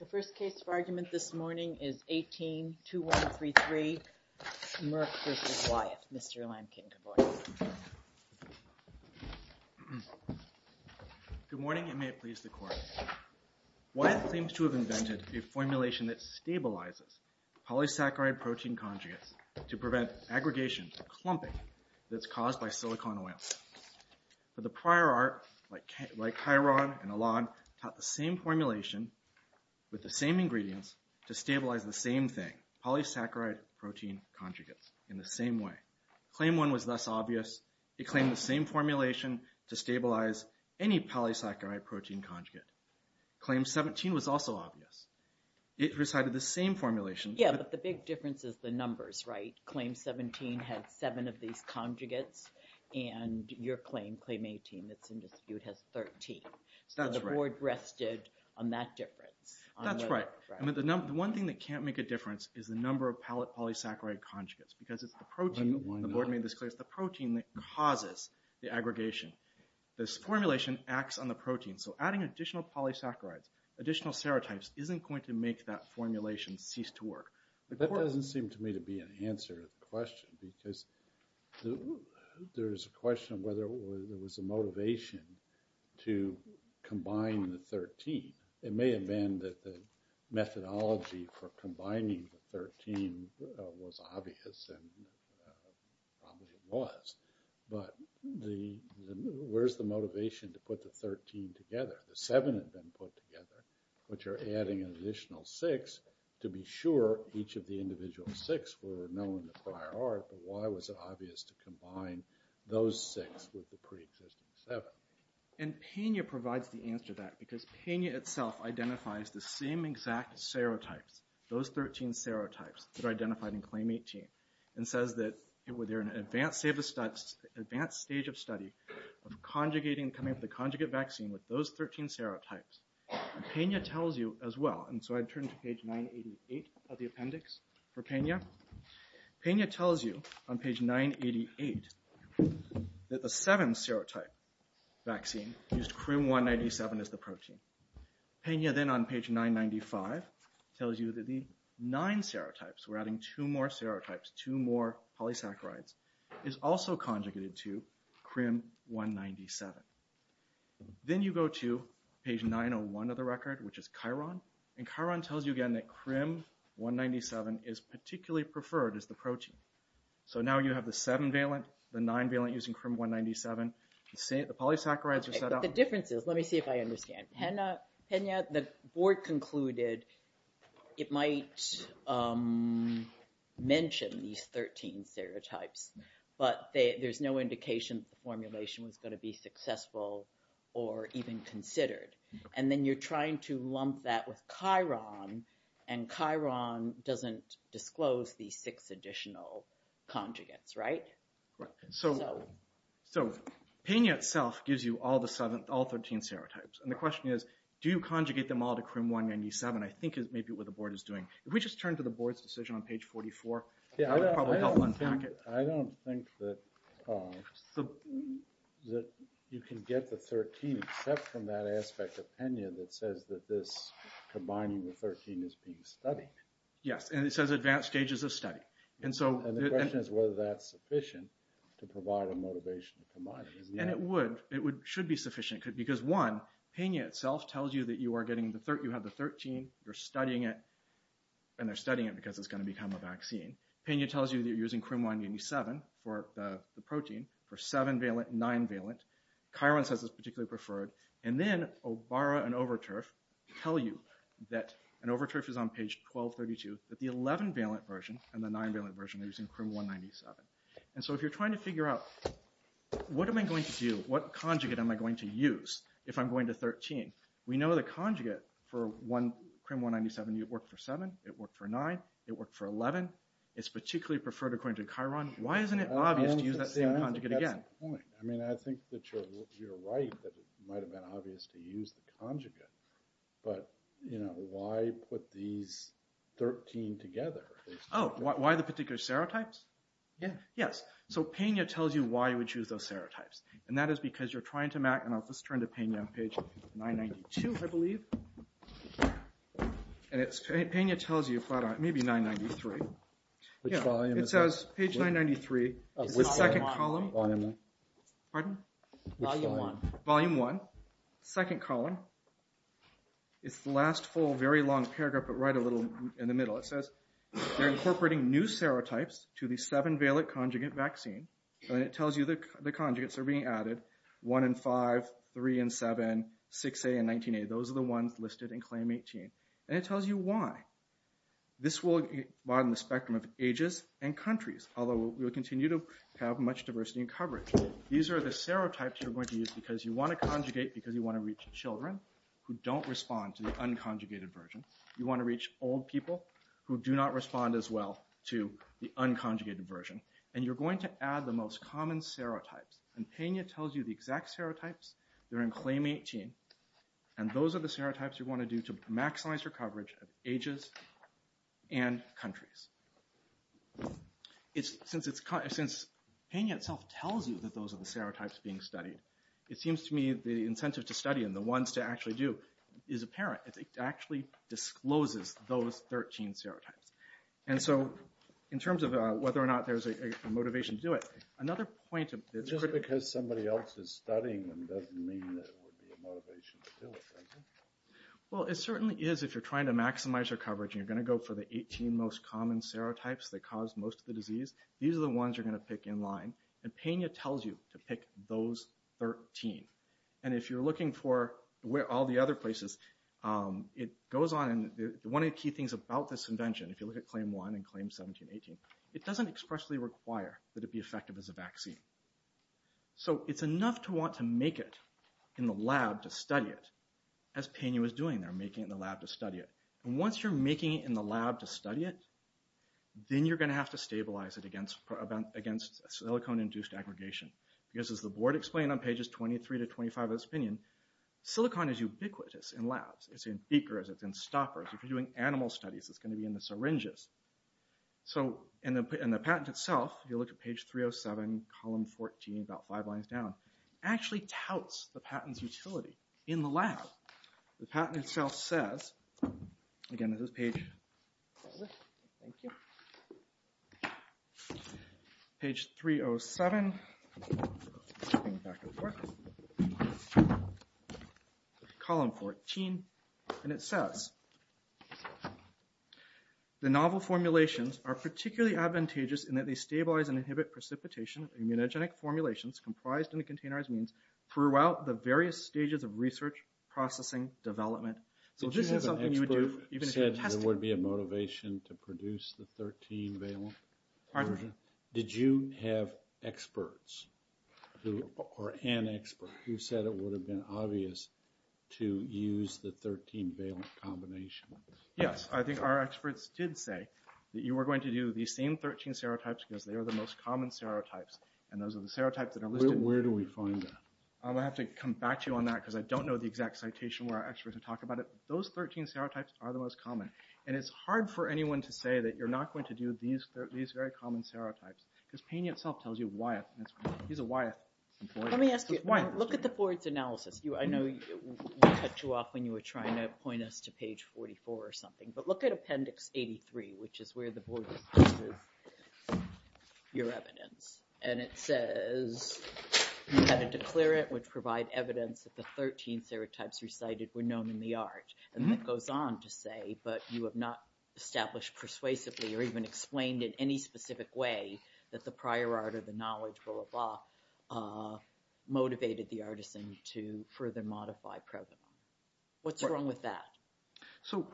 The first case for argument this morning is 18-2133, Merck v. Wyeth. Mr. Lankin, good morning. Good morning, and may it please the Court. Wyeth claims to have invented a formulation that stabilizes polysaccharide protein conjugates to prevent aggregation, clumping, that's caused by silicon oil. But the prior art, like Chiron and Elan, taught the same formulation with the same ingredients to stabilize the same thing, polysaccharide protein conjugates, in the same way. Claim 1 was thus obvious. It claimed the same formulation to stabilize any polysaccharide protein conjugate. Claim 17 was also obvious. It recited the same formulation. Yeah, but the big difference is the numbers, right? And your claim, Claim 18, that's in dispute, has 13. So the Board rested on that difference. That's right. The one thing that can't make a difference is the number of pallet polysaccharide conjugates because it's the protein, the Board made this clear, it's the protein that causes the aggregation. This formulation acts on the protein, so adding additional polysaccharides, additional serotypes, isn't going to make that formulation cease to work. That doesn't seem to me to be an answer to the question, because there's a question of whether there was a motivation to combine the 13. It may have been that the methodology for combining the 13 was obvious, and probably it was. But where's the motivation to put the 13 together? The 7 had been put together, but you're adding an additional 6 to be sure each of the individual 6 were known to prior art, but why was it obvious to combine those 6 with the pre-existing 7? And Peña provides the answer to that, because Peña itself identifies the same exact serotypes, those 13 serotypes that are identified in Claim 18, and says that they're in an advanced stage of study of coming up with a conjugate vaccine with those 13 serotypes. And Peña tells you as well, and so I turn to page 988 of the appendix for Peña. Peña tells you on page 988 that the 7 serotype vaccine used CRIM-197 as the protein. Peña then on page 995 tells you that the 9 serotypes, we're adding 2 more serotypes, 2 more polysaccharides, is also conjugated to CRIM-197. Then you go to page 901 of the record, which is Chiron, and Chiron tells you again that CRIM-197 is particularly preferred as the protein. So now you have the 7-valent, the 9-valent using CRIM-197, the polysaccharides are set up. The difference is, let me see if I understand. Peña, the board concluded it might mention these 13 serotypes, but there's no indication that the formulation was going to be successful or even considered. And then you're trying to lump that with Chiron, and Chiron doesn't disclose these 6 additional conjugates, right? Right. So Peña itself gives you all 13 serotypes. And the question is, do you conjugate them all to CRIM-197? I think is maybe what the board is doing. If we just turn to the board's decision on page 44, that would probably help unpack it. I don't think that you can get the 13 except from that aspect of Peña that says that this combining the 13 is being studied. Yes, and it says advanced stages of study. And the question is whether that's sufficient to provide a motivation to combine it. And it would. It should be sufficient. Because one, Peña itself tells you that you have the 13, you're studying it, and they're studying it because it's going to become a vaccine. Peña tells you that you're using CRIM-197 for the protein for 7-valent and 9-valent. Chiron says it's particularly preferred. And then Obara and Overturf tell you that, and Overturf is on page 1232, that the 11-valent version and the 9-valent version are using CRIM-197. And so if you're trying to figure out what am I going to do, what conjugate am I going to use if I'm going to 13, we know the conjugate for CRIM-197 worked for 7, it worked for 9, it worked for 11, it's particularly preferred according to Chiron, why isn't it obvious to use that same conjugate again? That's the point. I mean, I think that you're right that it might have been obvious to use the conjugate. But, you know, why put these 13 together? Oh, why the particular serotypes? Yeah. Yes. So Peña tells you why you would use those serotypes. And that is because you're trying to map, and I'll just turn to Peña on page 992, I believe. And Peña tells you, maybe 993. Which volume is that? It says, page 993, is the second column. Volume 1. Pardon? Volume 1. Volume 1, second column. It's the last full, very long paragraph, but right a little in the middle. It says, they're incorporating new serotypes to the 7-valent conjugate vaccine. And it tells you the conjugates are being added, 1 and 5, 3 and 7, 6A and 19A. Those are the ones listed in Claim 18. And it tells you why. This will broaden the spectrum of ages and countries, although we will continue to have much diversity in coverage. These are the serotypes you're going to use because you want to conjugate because you want to reach children who don't respond to the unconjugated version. You want to reach old people who do not respond as well to the unconjugated version. And you're going to add the most common serotypes. And Peña tells you the exact serotypes. They're in Claim 18. And those are the serotypes you want to do to maximize your coverage of ages and countries. Since Peña itself tells you that those are the serotypes being studied, it seems to me the incentive to study and the ones to actually do is apparent. It actually discloses those 13 serotypes. And so, in terms of whether or not there's a motivation to do it, another point that's critical. Just because somebody else is studying them doesn't mean that it would be a motivation to do it, does it? Well, it certainly is if you're trying to maximize your coverage and you're going to go for the 18 most common serotypes that cause most of the disease. These are the ones you're going to pick in line. And Peña tells you to pick those 13. And if you're looking for all the other places, it goes on. One of the key things about this invention, if you look at Claim 1 and Claim 17-18, it doesn't expressly require that it be effective as a vaccine. So it's enough to want to make it in the lab to study it, as Peña was doing there, making it in the lab to study it. And once you're making it in the lab to study it, then you're going to have to stabilize it against a silicone-induced aggregation. Because as the board explained on pages 23-25 of this opinion, silicone is ubiquitous in labs. It's in beakers, it's in stoppers. If you're doing animal studies, it's going to be in the syringes. So in the patent itself, if you look at page 307, column 14, about five lines down, it actually touts the patent's utility in the lab. The patent itself says, again this is page 307, back and forth, column 14, and it says, The novel formulations are particularly advantageous in that they stabilize and inhibit precipitation of immunogenic formulations comprised in the containerized means throughout the various stages of research, processing, development. Did you have an expert who said it would be a motivation to produce the 13-valent version? Did you have experts, or an expert, who said it would have been obvious to use the 13-valent combination? Yes, I think our experts did say that you were going to do the same 13 serotypes because they are the most common serotypes, and those are the serotypes that are listed. Where do we find that? I'm going to have to come back to you on that because I don't know the exact citation where our experts would talk about it. Those 13 serotypes are the most common, and it's hard for anyone to say that you're not going to do these very common serotypes because Payne itself tells you why it's important. Let me ask you, look at the board's analysis. I know we cut you off when you were trying to point us to page 44 or something, but look at appendix 83, which is where the board uses your evidence. And it says, you had a declarant which provided evidence that the 13 serotypes recited were known in the art. And it goes on to say, but you have not established persuasively or even explained in any specific way that the prior art or the knowledge, blah, blah, motivated the artisan to further modify provenance. What's wrong with that? So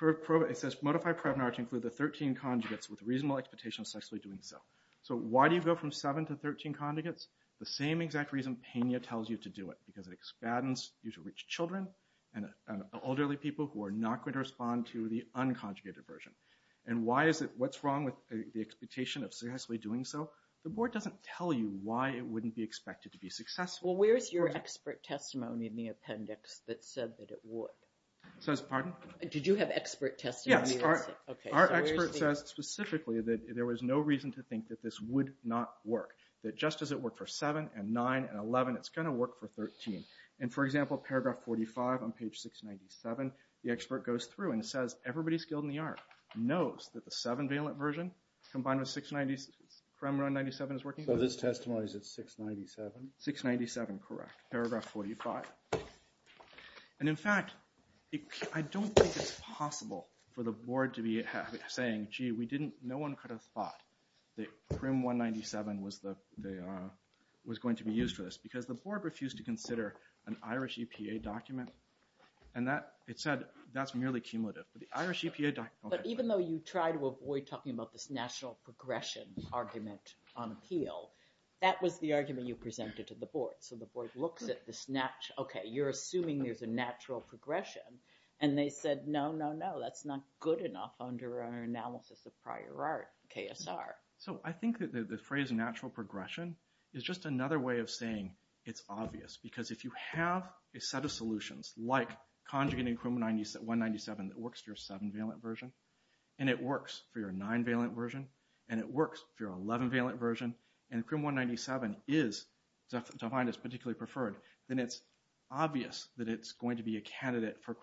it says, modify provenance to include the 13 conjugates with reasonable expectation of successfully doing so. So why do you go from 7 to 13 conjugates? The same exact reason Payne tells you to do it, because it expands you to reach children and elderly people who are not going to respond to the unconjugated version. And what's wrong with the expectation of successfully doing so? The board doesn't tell you why it wouldn't be expected to be successful. Well, where's your expert testimony in the appendix that said that it would? It says, pardon? Did you have expert testimony? Yes, our expert says specifically that there was no reason to think that this would not work. That just as it worked for 7 and 9 and 11, it's going to work for 13. And for example, paragraph 45 on page 697, the expert goes through and says, everybody skilled in the art knows that the 7-valent version combined with 697 is working. So this testimony is at 697? 697, correct. Paragraph 45. And in fact, I don't think it's possible for the board to be saying, gee, no one could have thought that PRIM 197 was going to be used for this. Because the board refused to consider an Irish EPA document. And it said that's merely cumulative. But even though you try to avoid talking about this national progression argument on appeal, that was the argument you presented to the board. So the board looks at this, okay, you're assuming there's a natural progression. And they said, no, no, no, that's not good enough under our analysis of prior art, KSR. So I think that the phrase natural progression is just another way of saying it's obvious. Because if you have a set of solutions like conjugating PRIM 197 that works for your 7-valent version, and it works for your 9-valent version, and it works for your 11-valent version, and PRIM 197 is defined as particularly preferred, then it's obvious that it's going to be a candidate for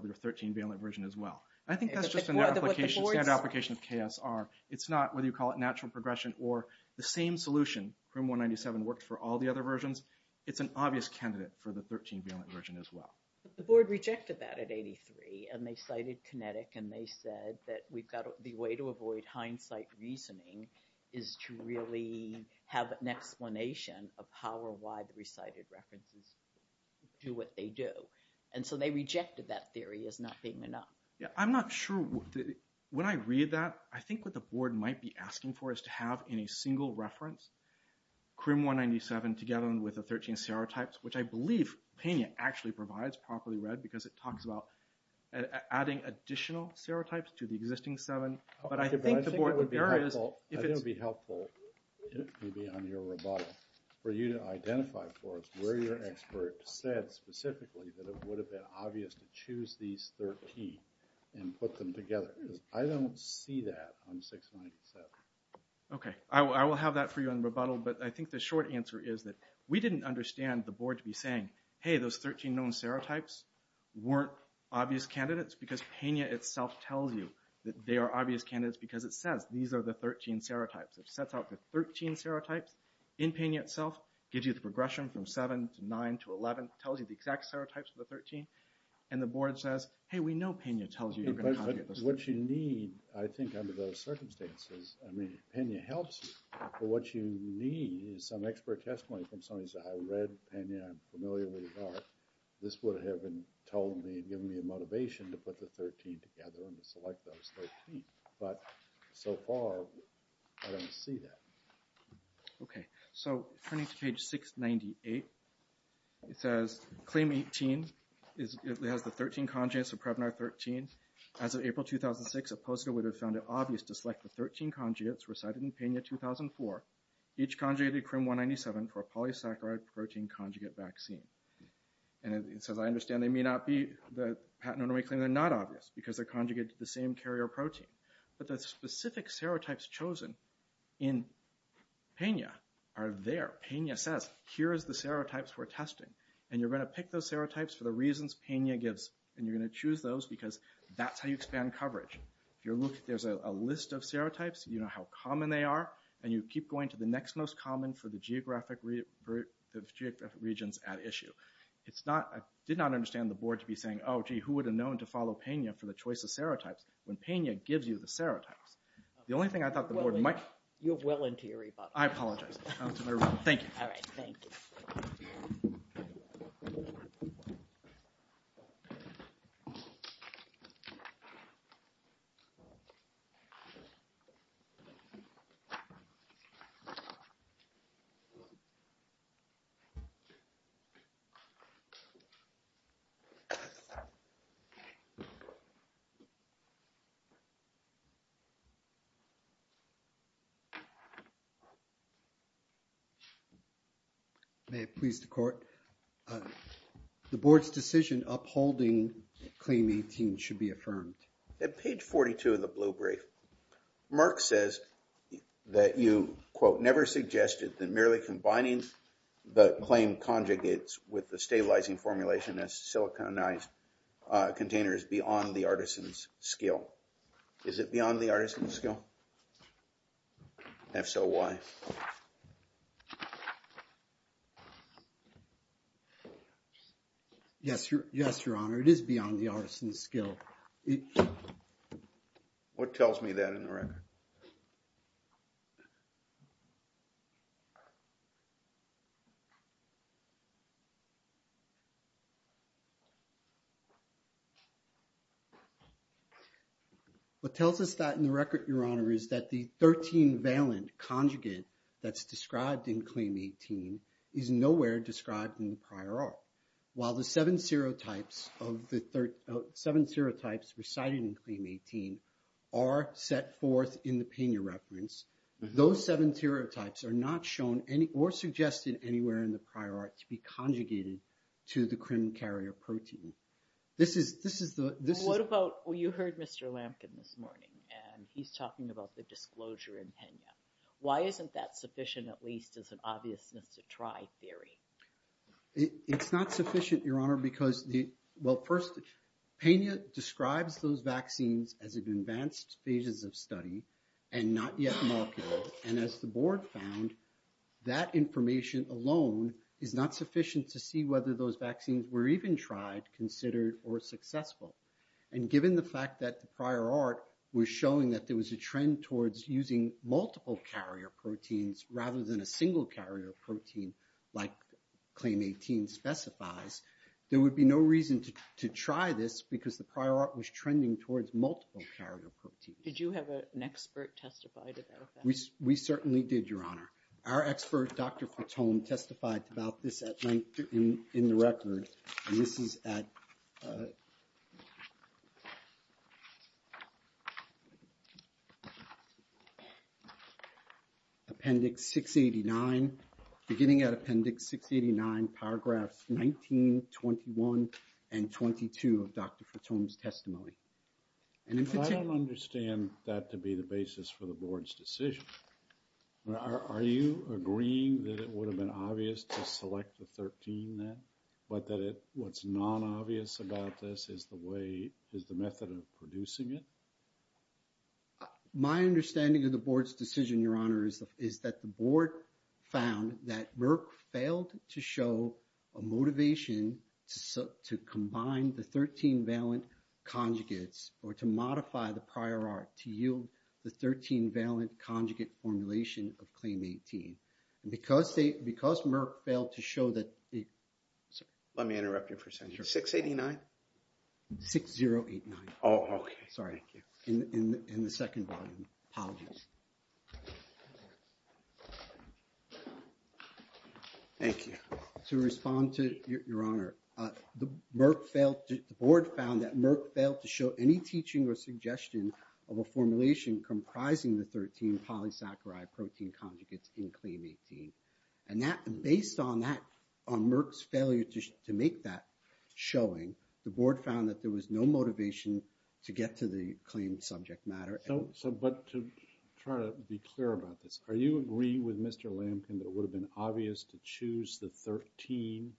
the 13-valent version as well. I think that's just an application, standard application of KSR. It's not, whether you call it natural progression or the same solution, PRIM 197 worked for all the other versions. It's an obvious candidate for the 13-valent version as well. But the board rejected that at 83. And they cited kinetic, and they said that the way to avoid hindsight reasoning is to really have an explanation of how or why the recited references do what they do. And so they rejected that theory as not being enough. I'm not sure, when I read that, I think what the board might be asking for is to have in a single reference PRIM 197 together with the 13 serotypes, which I believe Pena actually provides properly read because it talks about adding additional serotypes to the existing 7. I think it would be helpful, maybe on your rebuttal, for you to identify for us where your expert said specifically that it would have been obvious to choose these 13 and put them together. Because I don't see that on 697. Okay, I will have that for you on rebuttal. But I think the short answer is that we didn't understand the board to be saying, hey, those 13 known serotypes weren't obvious candidates because Pena itself tells you that they are obvious candidates because it says these are the 13 serotypes. It sets out the 13 serotypes in Pena itself, gives you the progression from 7 to 9 to 11, tells you the exact serotypes of the 13. And the board says, hey, we know Pena tells you you're going to have to get those. Because what you need, I think, under those circumstances, I mean, Pena helps you. But what you need is some expert testimony from somebody who says, I read Pena, I'm familiar with it all. This would have told me and given me a motivation to put the 13 together and to select those 13. But so far, I don't see that. Okay, so turning to page 698. It says, claim 18, it has the 13 conjugates of Prevnar 13. As of April 2006, a poster would have found it obvious to select the 13 conjugates recited in Pena 2004. Each conjugated CRIM 197 for a polysaccharide protein conjugate vaccine. And it says, I understand they may not be the patenotomy claim, they're not obvious because they're conjugated to the same carrier protein. But the specific serotypes chosen in Pena are there. Pena says, here is the serotypes we're testing. And you're going to pick those serotypes for the reasons Pena gives. And you're going to choose those because that's how you expand coverage. If you look, there's a list of serotypes. You know how common they are. And you keep going to the next most common for the geographic regions at issue. It's not, I did not understand the board to be saying, oh, gee, who would have known to follow Pena for the choice of serotypes when Pena gives you the serotypes? The only thing I thought the board might. You're well into your rebuttal. I apologize. Thank you. All right. Thank you. May it please the court. The board's decision upholding claim 18 should be affirmed. At page 42 of the blue brief, Mark says that you, quote, never suggested that merely combining the claim conjugates with the stabilizing formulation as siliconized containers beyond the artisan's skill. If so, why? Yes, Your Honor. It is beyond the artisan's skill. Thank you. What tells us that in the record, Your Honor, is that the 13 valent conjugate that's described in claim 18 is nowhere described in the prior art. While the seven serotypes recited in claim 18 are set forth in the Pena reference, those seven serotypes are not shown or suggested anywhere in the prior art to be conjugated to the crim carrier protein. You heard Mr. Lampkin this morning, and he's talking about the disclosure in Pena. Why isn't that sufficient at least as an obviousness to try theory? It's not sufficient, Your Honor, because, well, first, Pena describes those vaccines as advanced phases of study and not yet molecular. And as the board found, that information alone is not sufficient to see whether those vaccines were even tried, considered, or successful. And given the fact that the prior art was showing that there was a trend towards using multiple carrier proteins rather than a single carrier protein like claim 18 specifies, there would be no reason to try this because the prior art was trending towards multiple carrier proteins. Did you have an expert testify to that? We certainly did, Your Honor. Our expert, Dr. Fatone, testified about this at length in the record. And this is at... Appendix 689, beginning at Appendix 689, paragraphs 19, 21, and 22 of Dr. Fatone's testimony. I don't understand that to be the basis for the board's decision. Are you agreeing that it would have been obvious to select the 13 then, but that what's non-obvious about this is the way, is the method of producing it? My understanding of the board's decision, Your Honor, is that the board found that Merck failed to show a motivation to combine the 13 valent conjugates or to modify the prior art to yield the 13 valent conjugate formulation of claim 18. And because Merck failed to show that... Let me interrupt you for a second. 689? 6089. Oh, okay. Sorry. In the second volume. Apologies. Thank you. To respond to, Your Honor, the board found that Merck failed to show any teaching or suggestion of a formulation comprising the 13 polysaccharide protein conjugates in claim 18. And based on Merck's failure to make that showing, the board found that there was no motivation to get to the claim subject matter. But to try to be clear about this, are you agreeing with Mr. Lampkin that it would have been obvious to choose the 13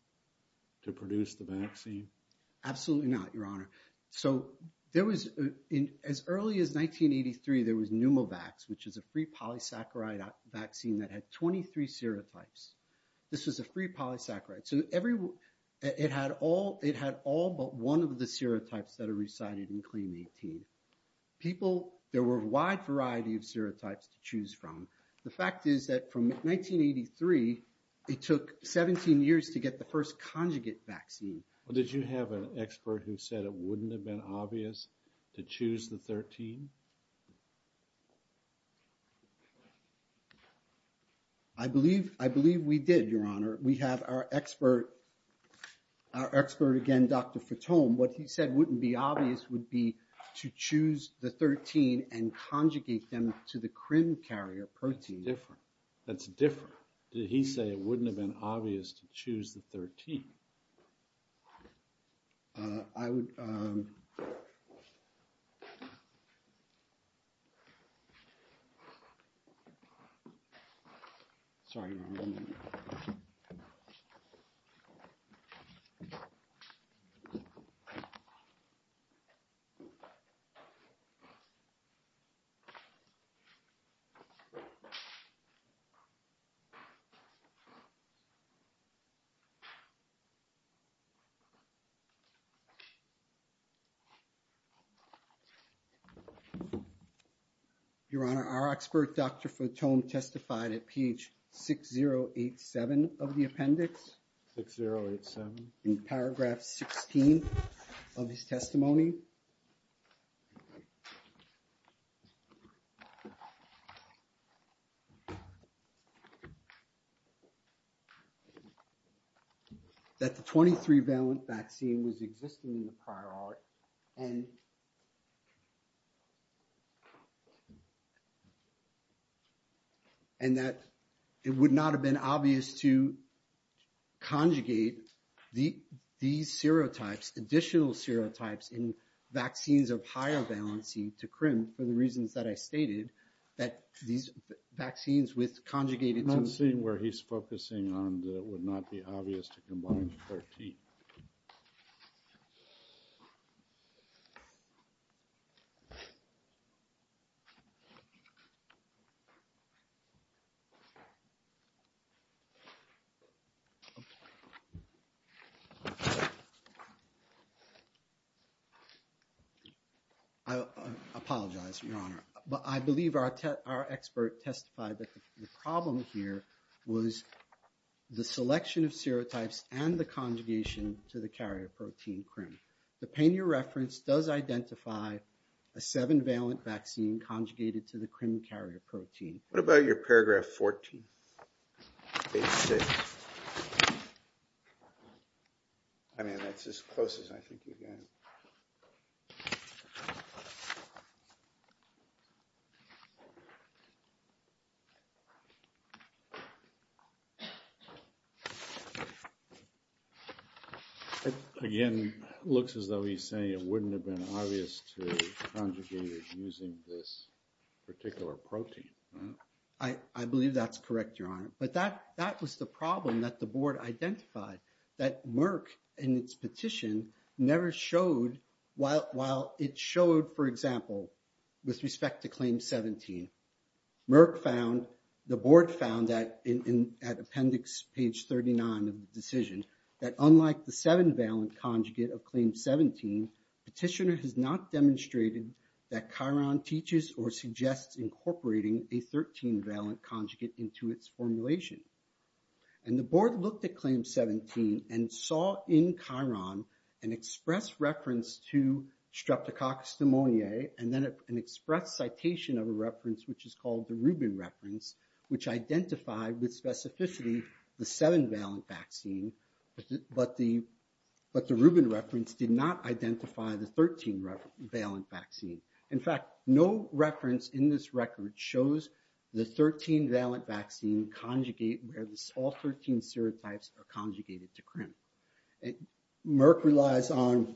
to produce the vaccine? Absolutely not, Your Honor. So, there was, as early as 1983, there was Pneumovax, which is a free polysaccharide vaccine that had 23 serotypes. This was a free polysaccharide. So, it had all but one of the serotypes that are recited in claim 18. People, there were a wide variety of serotypes to choose from. The fact is that from 1983, it took 17 years to get the first conjugate vaccine. Well, did you have an expert who said it wouldn't have been obvious to choose the 13? I believe we did, Your Honor. We have our expert, again, Dr. Fatome. What he said wouldn't be obvious would be to choose the 13 and conjugate them to the crim carrier protein. That's different. Did he say it wouldn't have been obvious to choose the 13? I would— Sorry, Your Honor. Your Honor, our expert, Dr. Fatome, testified at page 6087 of the appendix. 6087. In paragraph 16 of his testimony. That the 23-valent vaccine was existing in the prior art. And that it would not have been obvious to conjugate these serotypes, additional serotypes, in vaccines of higher valency to crim, for the reasons that I stated, that these vaccines with conjugated— I'm seeing where he's focusing on that it would not be obvious to combine the 13. Okay. I apologize, Your Honor. I believe our expert testified that the problem here was the selection of serotypes and the conjugation to the carrier protein, crim. The pane of your reference does identify a 7-valent vaccine conjugated to the crim carrier protein. What about your paragraph 14? Page 6. I mean, that's as close as I think you get. Okay. Again, it looks as though he's saying it wouldn't have been obvious to conjugate it using this particular protein. I believe that's correct, Your Honor. But that was the problem that the board identified. That Merck, in its petition, never showed— while it showed, for example, with respect to Claim 17, Merck found, the board found, at appendix page 39 of the decision, that unlike the 7-valent conjugate of Claim 17, petitioner has not demonstrated that Chiron teaches or suggests incorporating a 13-valent conjugate into its formulation. And the board looked at Claim 17 and saw in Chiron an express reference to streptococcus pneumoniae and then an express citation of a reference which is called the Rubin reference, which identified with specificity the 7-valent vaccine, but the Rubin reference did not identify the 13-valent vaccine. In fact, no reference in this record shows the 13-valent vaccine conjugate where all 13 serotypes are conjugated to CRIM. Merck relies on,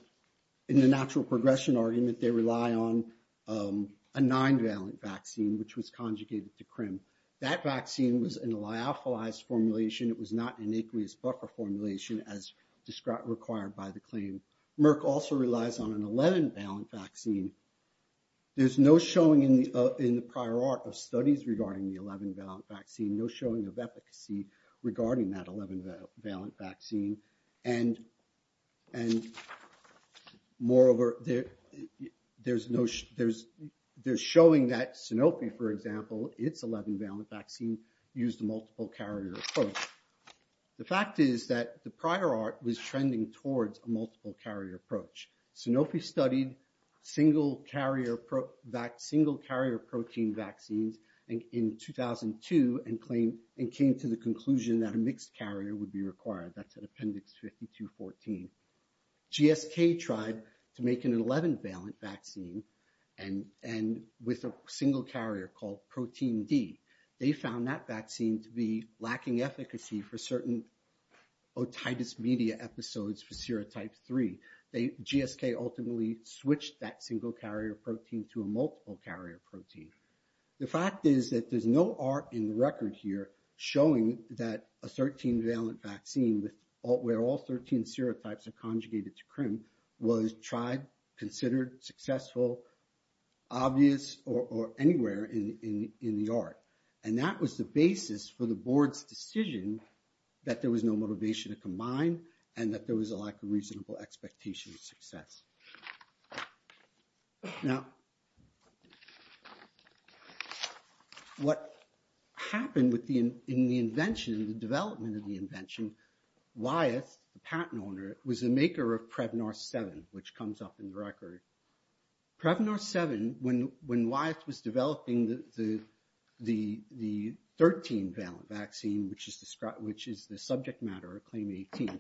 in the natural progression argument, they rely on a 9-valent vaccine which was conjugated to CRIM. That vaccine was in a lyophilized formulation. It was not in aqueous buffer formulation as required by the claim. Merck also relies on an 11-valent vaccine. There's no showing in the prior art of studies regarding the 11-valent vaccine, no showing of efficacy regarding that 11-valent vaccine. And moreover, there's showing that Sanofi, for example, its 11-valent vaccine used a multiple carrier approach. The fact is that the prior art was trending towards a multiple carrier approach. Sanofi studied single carrier protein vaccines in 2002 and came to the conclusion that a mixed carrier would be required. That's in appendix 52-14. GSK tried to make an 11-valent vaccine and with a single carrier called protein D. They found that vaccine to be lacking efficacy for certain otitis media episodes for serotype 3. GSK ultimately switched that single carrier protein to a multiple carrier protein. The fact is that there's no art in the record here showing that a 13-valent vaccine where all 13 serotypes are conjugated to CRIM was tried, considered successful, obvious, or anywhere in the art. And that was the basis for the board's decision that there was no motivation to combine and that there was a lack of reasonable expectation of success. Now, what happened in the invention, the development of the invention, Wyeth, the patent owner, was a maker of Prevnar 7, which comes up in the record. Prevnar 7, when Wyeth was developing the 13-valent vaccine, which is the subject matter of Claim 18,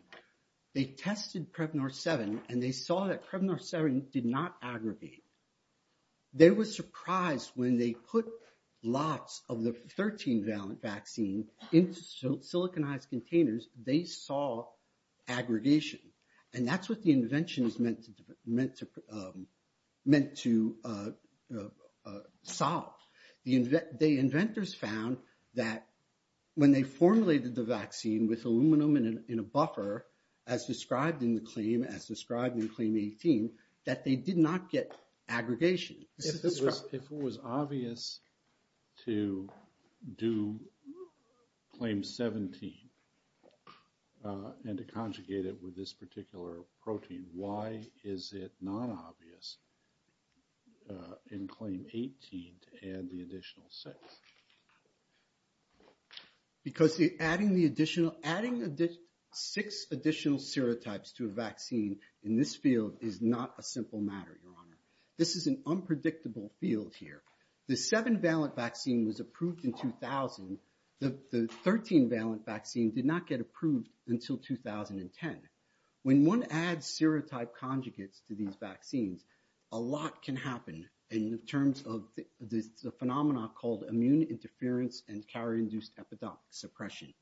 they tested Prevnar 7 and they saw that Prevnar 7 did not aggregate. They were surprised when they put lots of the 13-valent vaccine into siliconized containers, they saw aggregation. And that's what the invention is meant to solve. The inventors found that when they formulated the vaccine with aluminum in a buffer, as described in the claim, as described in Claim 18, that they did not get aggregation. If it was obvious to do Claim 17 and to conjugate it with this particular protein, why is it not obvious in Claim 18 to add the additional six? Because adding the additional, adding six additional serotypes to a vaccine in this field is not a simple matter, Your Honor. This is an unpredictable field here. The 7-valent vaccine was approved in 2000. The 13-valent vaccine did not get approved until 2010. When one adds serotype conjugates to these vaccines, a lot can happen in terms of the phenomena called immune interference and carrier-induced epidemic suppression.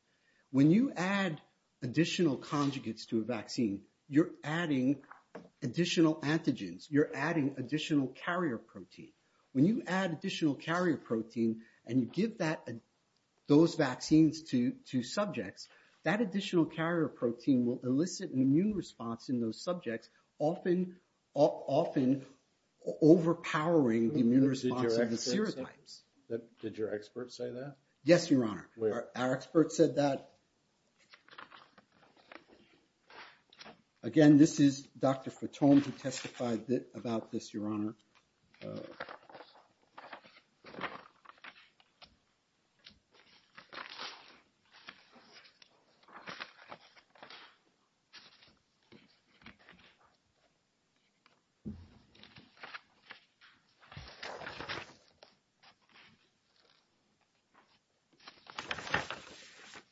When you add additional conjugates to a vaccine, you're adding additional antigens, you're adding additional carrier protein. When you add additional carrier protein and you give those vaccines to subjects, that additional carrier protein will elicit an immune response in those subjects, often overpowering the immune response of the serotypes. Did your expert say that? Yes, Your Honor. Our expert said that. Again, this is Dr. Fatone who testified about this, Your Honor.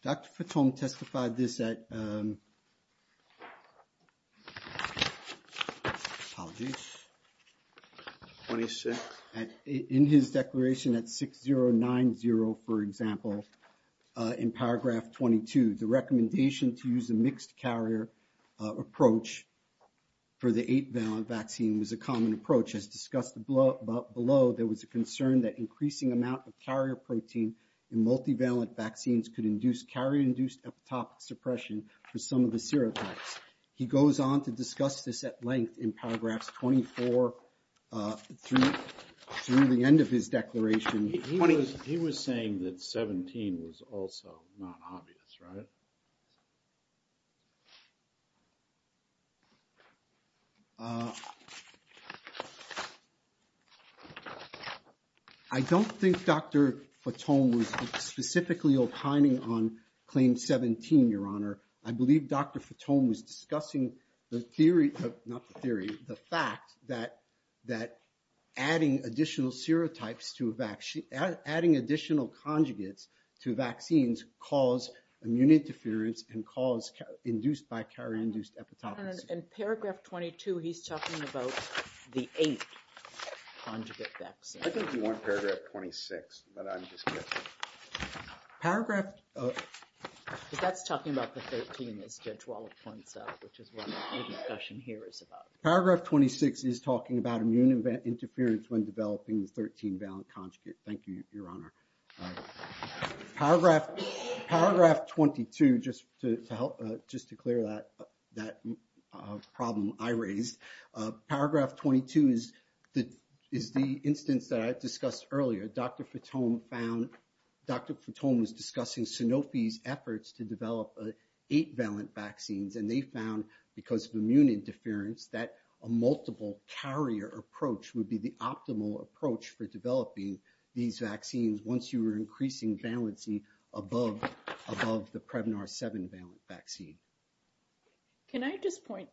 Dr. Fatone testified this at... Apologies. 26. In his declaration at 6090, for example, in paragraph 22, the recommendation to use a mixed carrier approach for the 8-valent vaccine was a common approach. As discussed below, there was a concern that increasing amount of carrier protein in multivalent vaccines could induce carrier-induced epidemic suppression for some of the serotypes. He goes on to discuss this at length in paragraphs 24 through the end of his declaration. He was saying that 17 was also not obvious, right? I don't think Dr. Fatone was specifically opining on claim 17, Your Honor. I believe Dr. Fatone was discussing the theory, not the theory, the fact that adding additional serotypes to a vaccine, adding additional conjugates to vaccines cause immune interference and cause induced by carrier-induced epidemic suppression. In paragraph 22, he's talking about the 8-conjugate vaccine. I think you want paragraph 26, but I'm just guessing. Paragraph... That's talking about the 13 as Judge Wallop points out, which is what the discussion here is about. Paragraph 26 is talking about immune interference when developing the 13-valent conjugate. Thank you, Your Honor. Paragraph 22, just to help, just to clear that problem I raised. Paragraph 22 is the instance that I discussed earlier. Dr. Fatone found, Dr. Fatone was discussing Sanofi's efforts to develop 8-valent vaccines. And they found, because of immune interference, that a multiple carrier approach would be the optimal approach for developing these vaccines once you were increasing valency above the Prevnar 7-valent vaccine. Can I just point...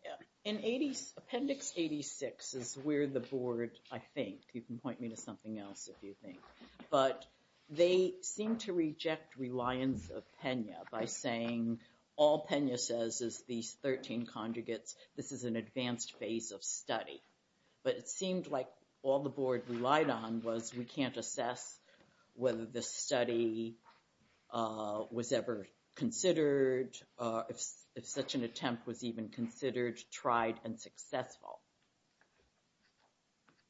Appendix 86 is where the board, I think, you can point me to something else if you think, but they seem to reject reliance of Pena by saying all Pena says is these 13 conjugates. This is an advanced phase of study. But it seemed like all the board relied on was we can't assess whether the study was ever considered, if such an attempt was even considered, tried, and successful.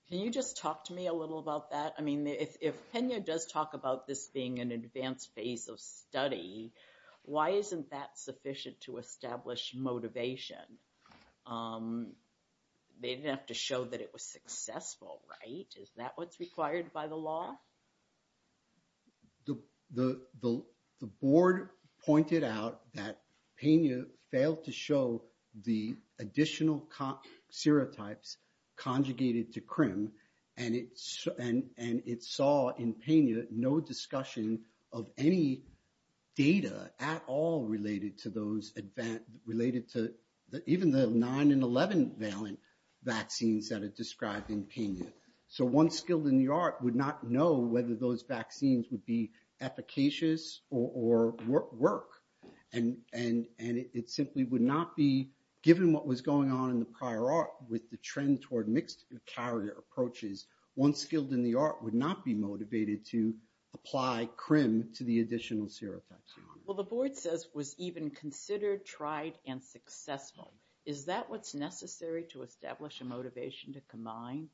Can you just talk to me a little about that? I mean, if Pena does talk about this being an advanced phase of study, why isn't that sufficient to establish motivation? They didn't have to show that it was successful, right? Is that what's required by the law? The board pointed out that Pena failed to show the additional serotypes conjugated to CRIM. And it saw in Pena no discussion of any data at all related to those advanced, related to even the 9 and 11-valent vaccines that are described in Pena. So one skilled in the art would not know whether those vaccines would be efficacious or work. And it simply would not be, given what was going on in the prior art with the trend toward mixed carrier approaches, one skilled in the art would not be motivated to apply CRIM to the additional serotypes. Well, the board says was even considered, tried, and successful. Is that what's necessary to establish a motivation to combine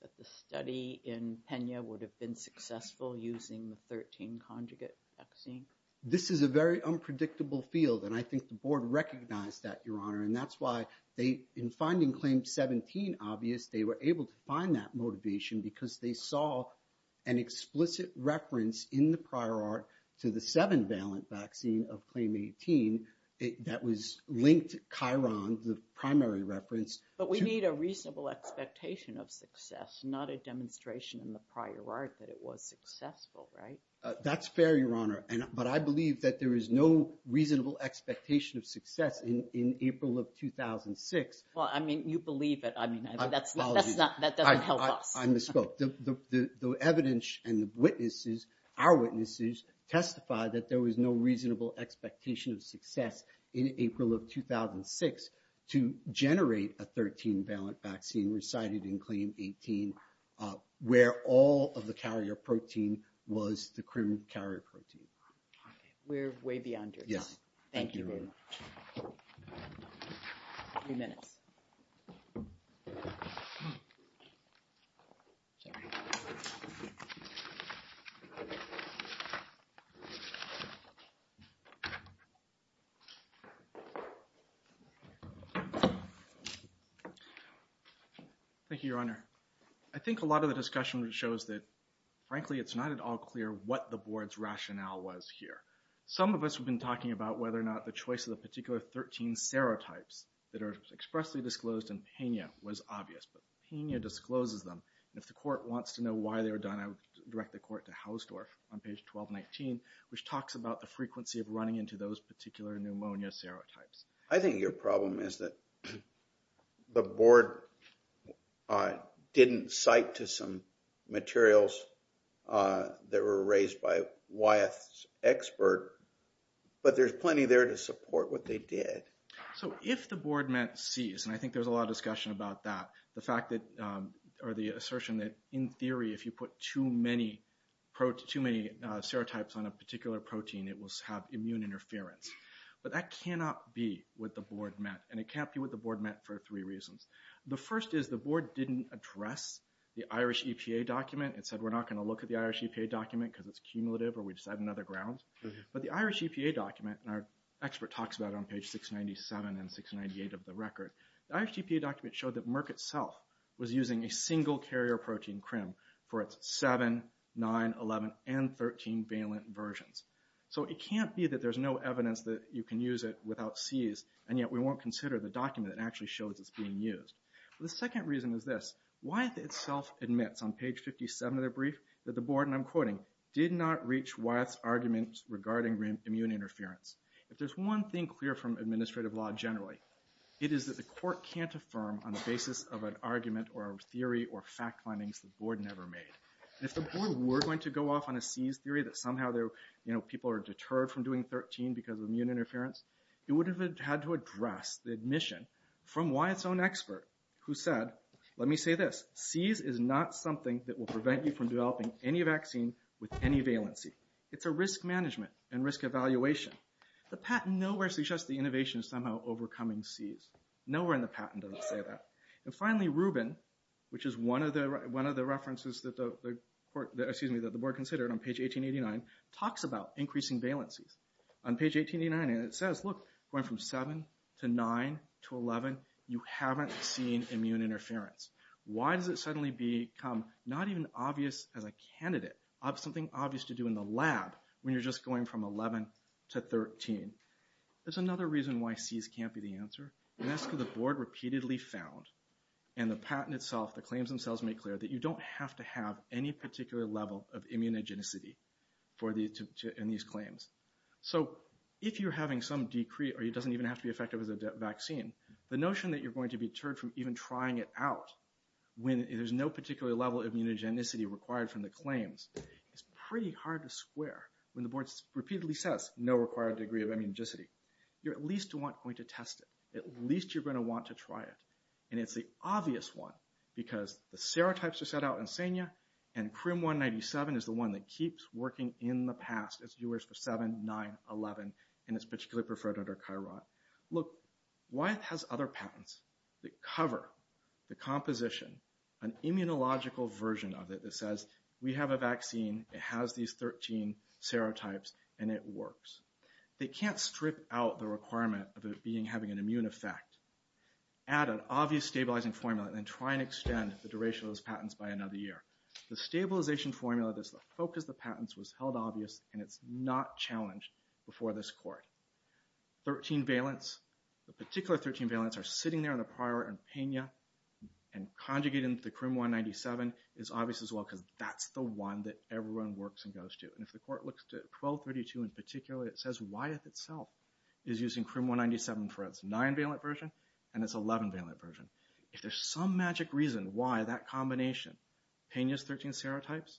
that the study in Pena would have been successful using the 13-conjugate vaccine? This is a very unpredictable field, and I think the board recognized that, Your Honor. And that's why they, in finding CLAIM-17 obvious, they were able to find that motivation because they saw an explicit reference in the prior art to the 7-valent vaccine of CLAIM-18 that was linked to Chiron, the primary reference. But we need a reasonable expectation of success, not a demonstration in the prior art that it was successful, right? That's fair, Your Honor. But I believe that there is no reasonable expectation of success in April of 2006. Well, I mean, you believe it. I mean, that doesn't help us. I misspoke. The evidence and the witnesses, our witnesses, testified that there was no reasonable expectation of success in April of 2006 to generate a 13-valent vaccine recited in CLAIM-18 where all of the carrier protein was the CRIM carrier protein. We're way beyond your time. Thank you, Your Honor. Three minutes. Thank you, Your Honor. I think a lot of the discussion shows that, frankly, it's not at all clear what the board's rationale was here. Some of us have been talking about whether or not the choice of the particular 13 serotypes that are expressly disclosed in Pena was obvious, but Pena discloses them. And if the court wants to know why they were done, I would direct the court to Hausdorff on page 1219, which talks about the frequency of running into those particular pneumonia serotypes. I think your problem is that the board didn't cite to some materials that were raised by Wyeth's expert, but there's plenty there to support what they did. So if the board met Cs, and I think there's a lot of discussion about that, or the assertion that, in theory, if you put too many serotypes on a particular protein, it will have immune interference. But that cannot be what the board met, and it can't be what the board met for three reasons. The first is the board didn't address the Irish EPA document. It said we're not going to look at the Irish EPA document because it's cumulative or we just have another ground. But the Irish EPA document, and our expert talks about it on page 697 and 698 of the record, the Irish EPA document showed that Merck itself was using a single carrier protein, CRIM, for its 7, 9, 11, and 13 valent versions. So it can't be that there's no evidence that you can use it without Cs, and yet we won't consider the document that actually shows it's being used. The second reason is this. Wyeth itself admits on page 57 of their brief that the board, and I'm quoting, did not reach Wyeth's arguments regarding immune interference. If there's one thing clear from administrative law generally, it is that the court can't affirm on the basis of an argument or a theory or fact findings the board never made. If the board were going to go off on a Cs theory that somehow people are deterred from doing 13 because of immune interference, it would have had to address the admission from Wyeth's own expert who said, let me say this, Cs is not something that will prevent you from developing any vaccine with any valency. It's a risk management and risk evaluation. The patent nowhere suggests the innovation of somehow overcoming Cs. Nowhere in the patent does it say that. And finally, Rubin, which is one of the references that the board considered on page 1889, talks about increasing valencies. On page 1889 it says, look, going from 7 to 9 to 11, you haven't seen immune interference. Why does it suddenly become not even obvious as a candidate, something obvious to do in the lab when you're just going from 11 to 13? There's another reason why Cs can't be the answer, and that's because the board repeatedly found in the patent itself, the claims themselves make clear that you don't have to have any particular level of immunogenicity in these claims. So if you're having some decree or it doesn't even have to be effective as a vaccine, the notion that you're going to be deterred from even trying it out when there's no particular level of immunogenicity required from the claims is pretty hard to square. When the board repeatedly says no required degree of immunogenicity, you're at least going to want to test it. At least you're going to want to try it. And it's the obvious one because the serotypes are set out in SENA and CRIM-197 is the one that keeps working in the past. It's yours for 7, 9, 11, and it's particularly preferred under CHI-ROT. Look, Wyeth has other patents that cover the composition, an immunological version of it that says we have a vaccine, it has these 13 serotypes, and it works. They can't strip out the requirement of it having an immune effect, add an obvious stabilizing formula, and then try and extend the duration of those patents by another year. The stabilization formula that's the focus of the patents was held obvious and it's not challenged before this court. 13 valence, the particular 13 valence are sitting there in the prior and Peña and conjugated into the CRIM-197 is obvious as well because that's the one that everyone works and goes to. And if the court looks to 1232 in particular, it says Wyeth itself is using CRIM-197 for its 9 valence version and its 11 valence version. If there's some magic reason why that combination, Peña's 13 serotypes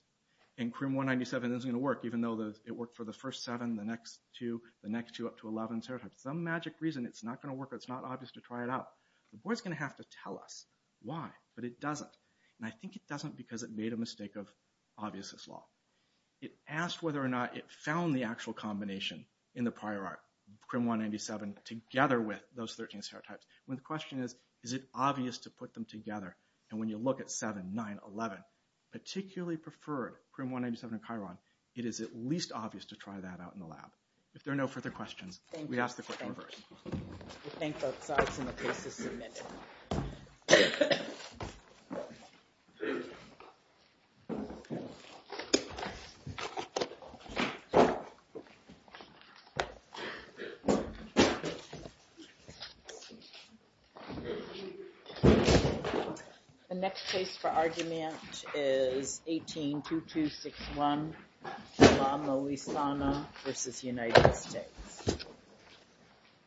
and CRIM-197 isn't going to work, even though it worked for the first 7, the next 2, the next 2 up to 11 serotypes, some magic reason it's not going to work or it's not obvious to try it out. The board's going to have to tell us why, but it doesn't. And I think it doesn't because it made a mistake of obviousness law. It asked whether or not it found the actual combination in the prior art, CRIM-197, together with those 13 serotypes. The question is, is it obvious to put them together? And when you look at 7, 9, 11, particularly preferred CRIM-197 and Chiron, it is at least obvious to try that out in the lab. If there are no further questions, we ask the court to reverse. We thank both sides and the case is submitted. The next case for argument is 18-2261, Shilamo Isano v. United States.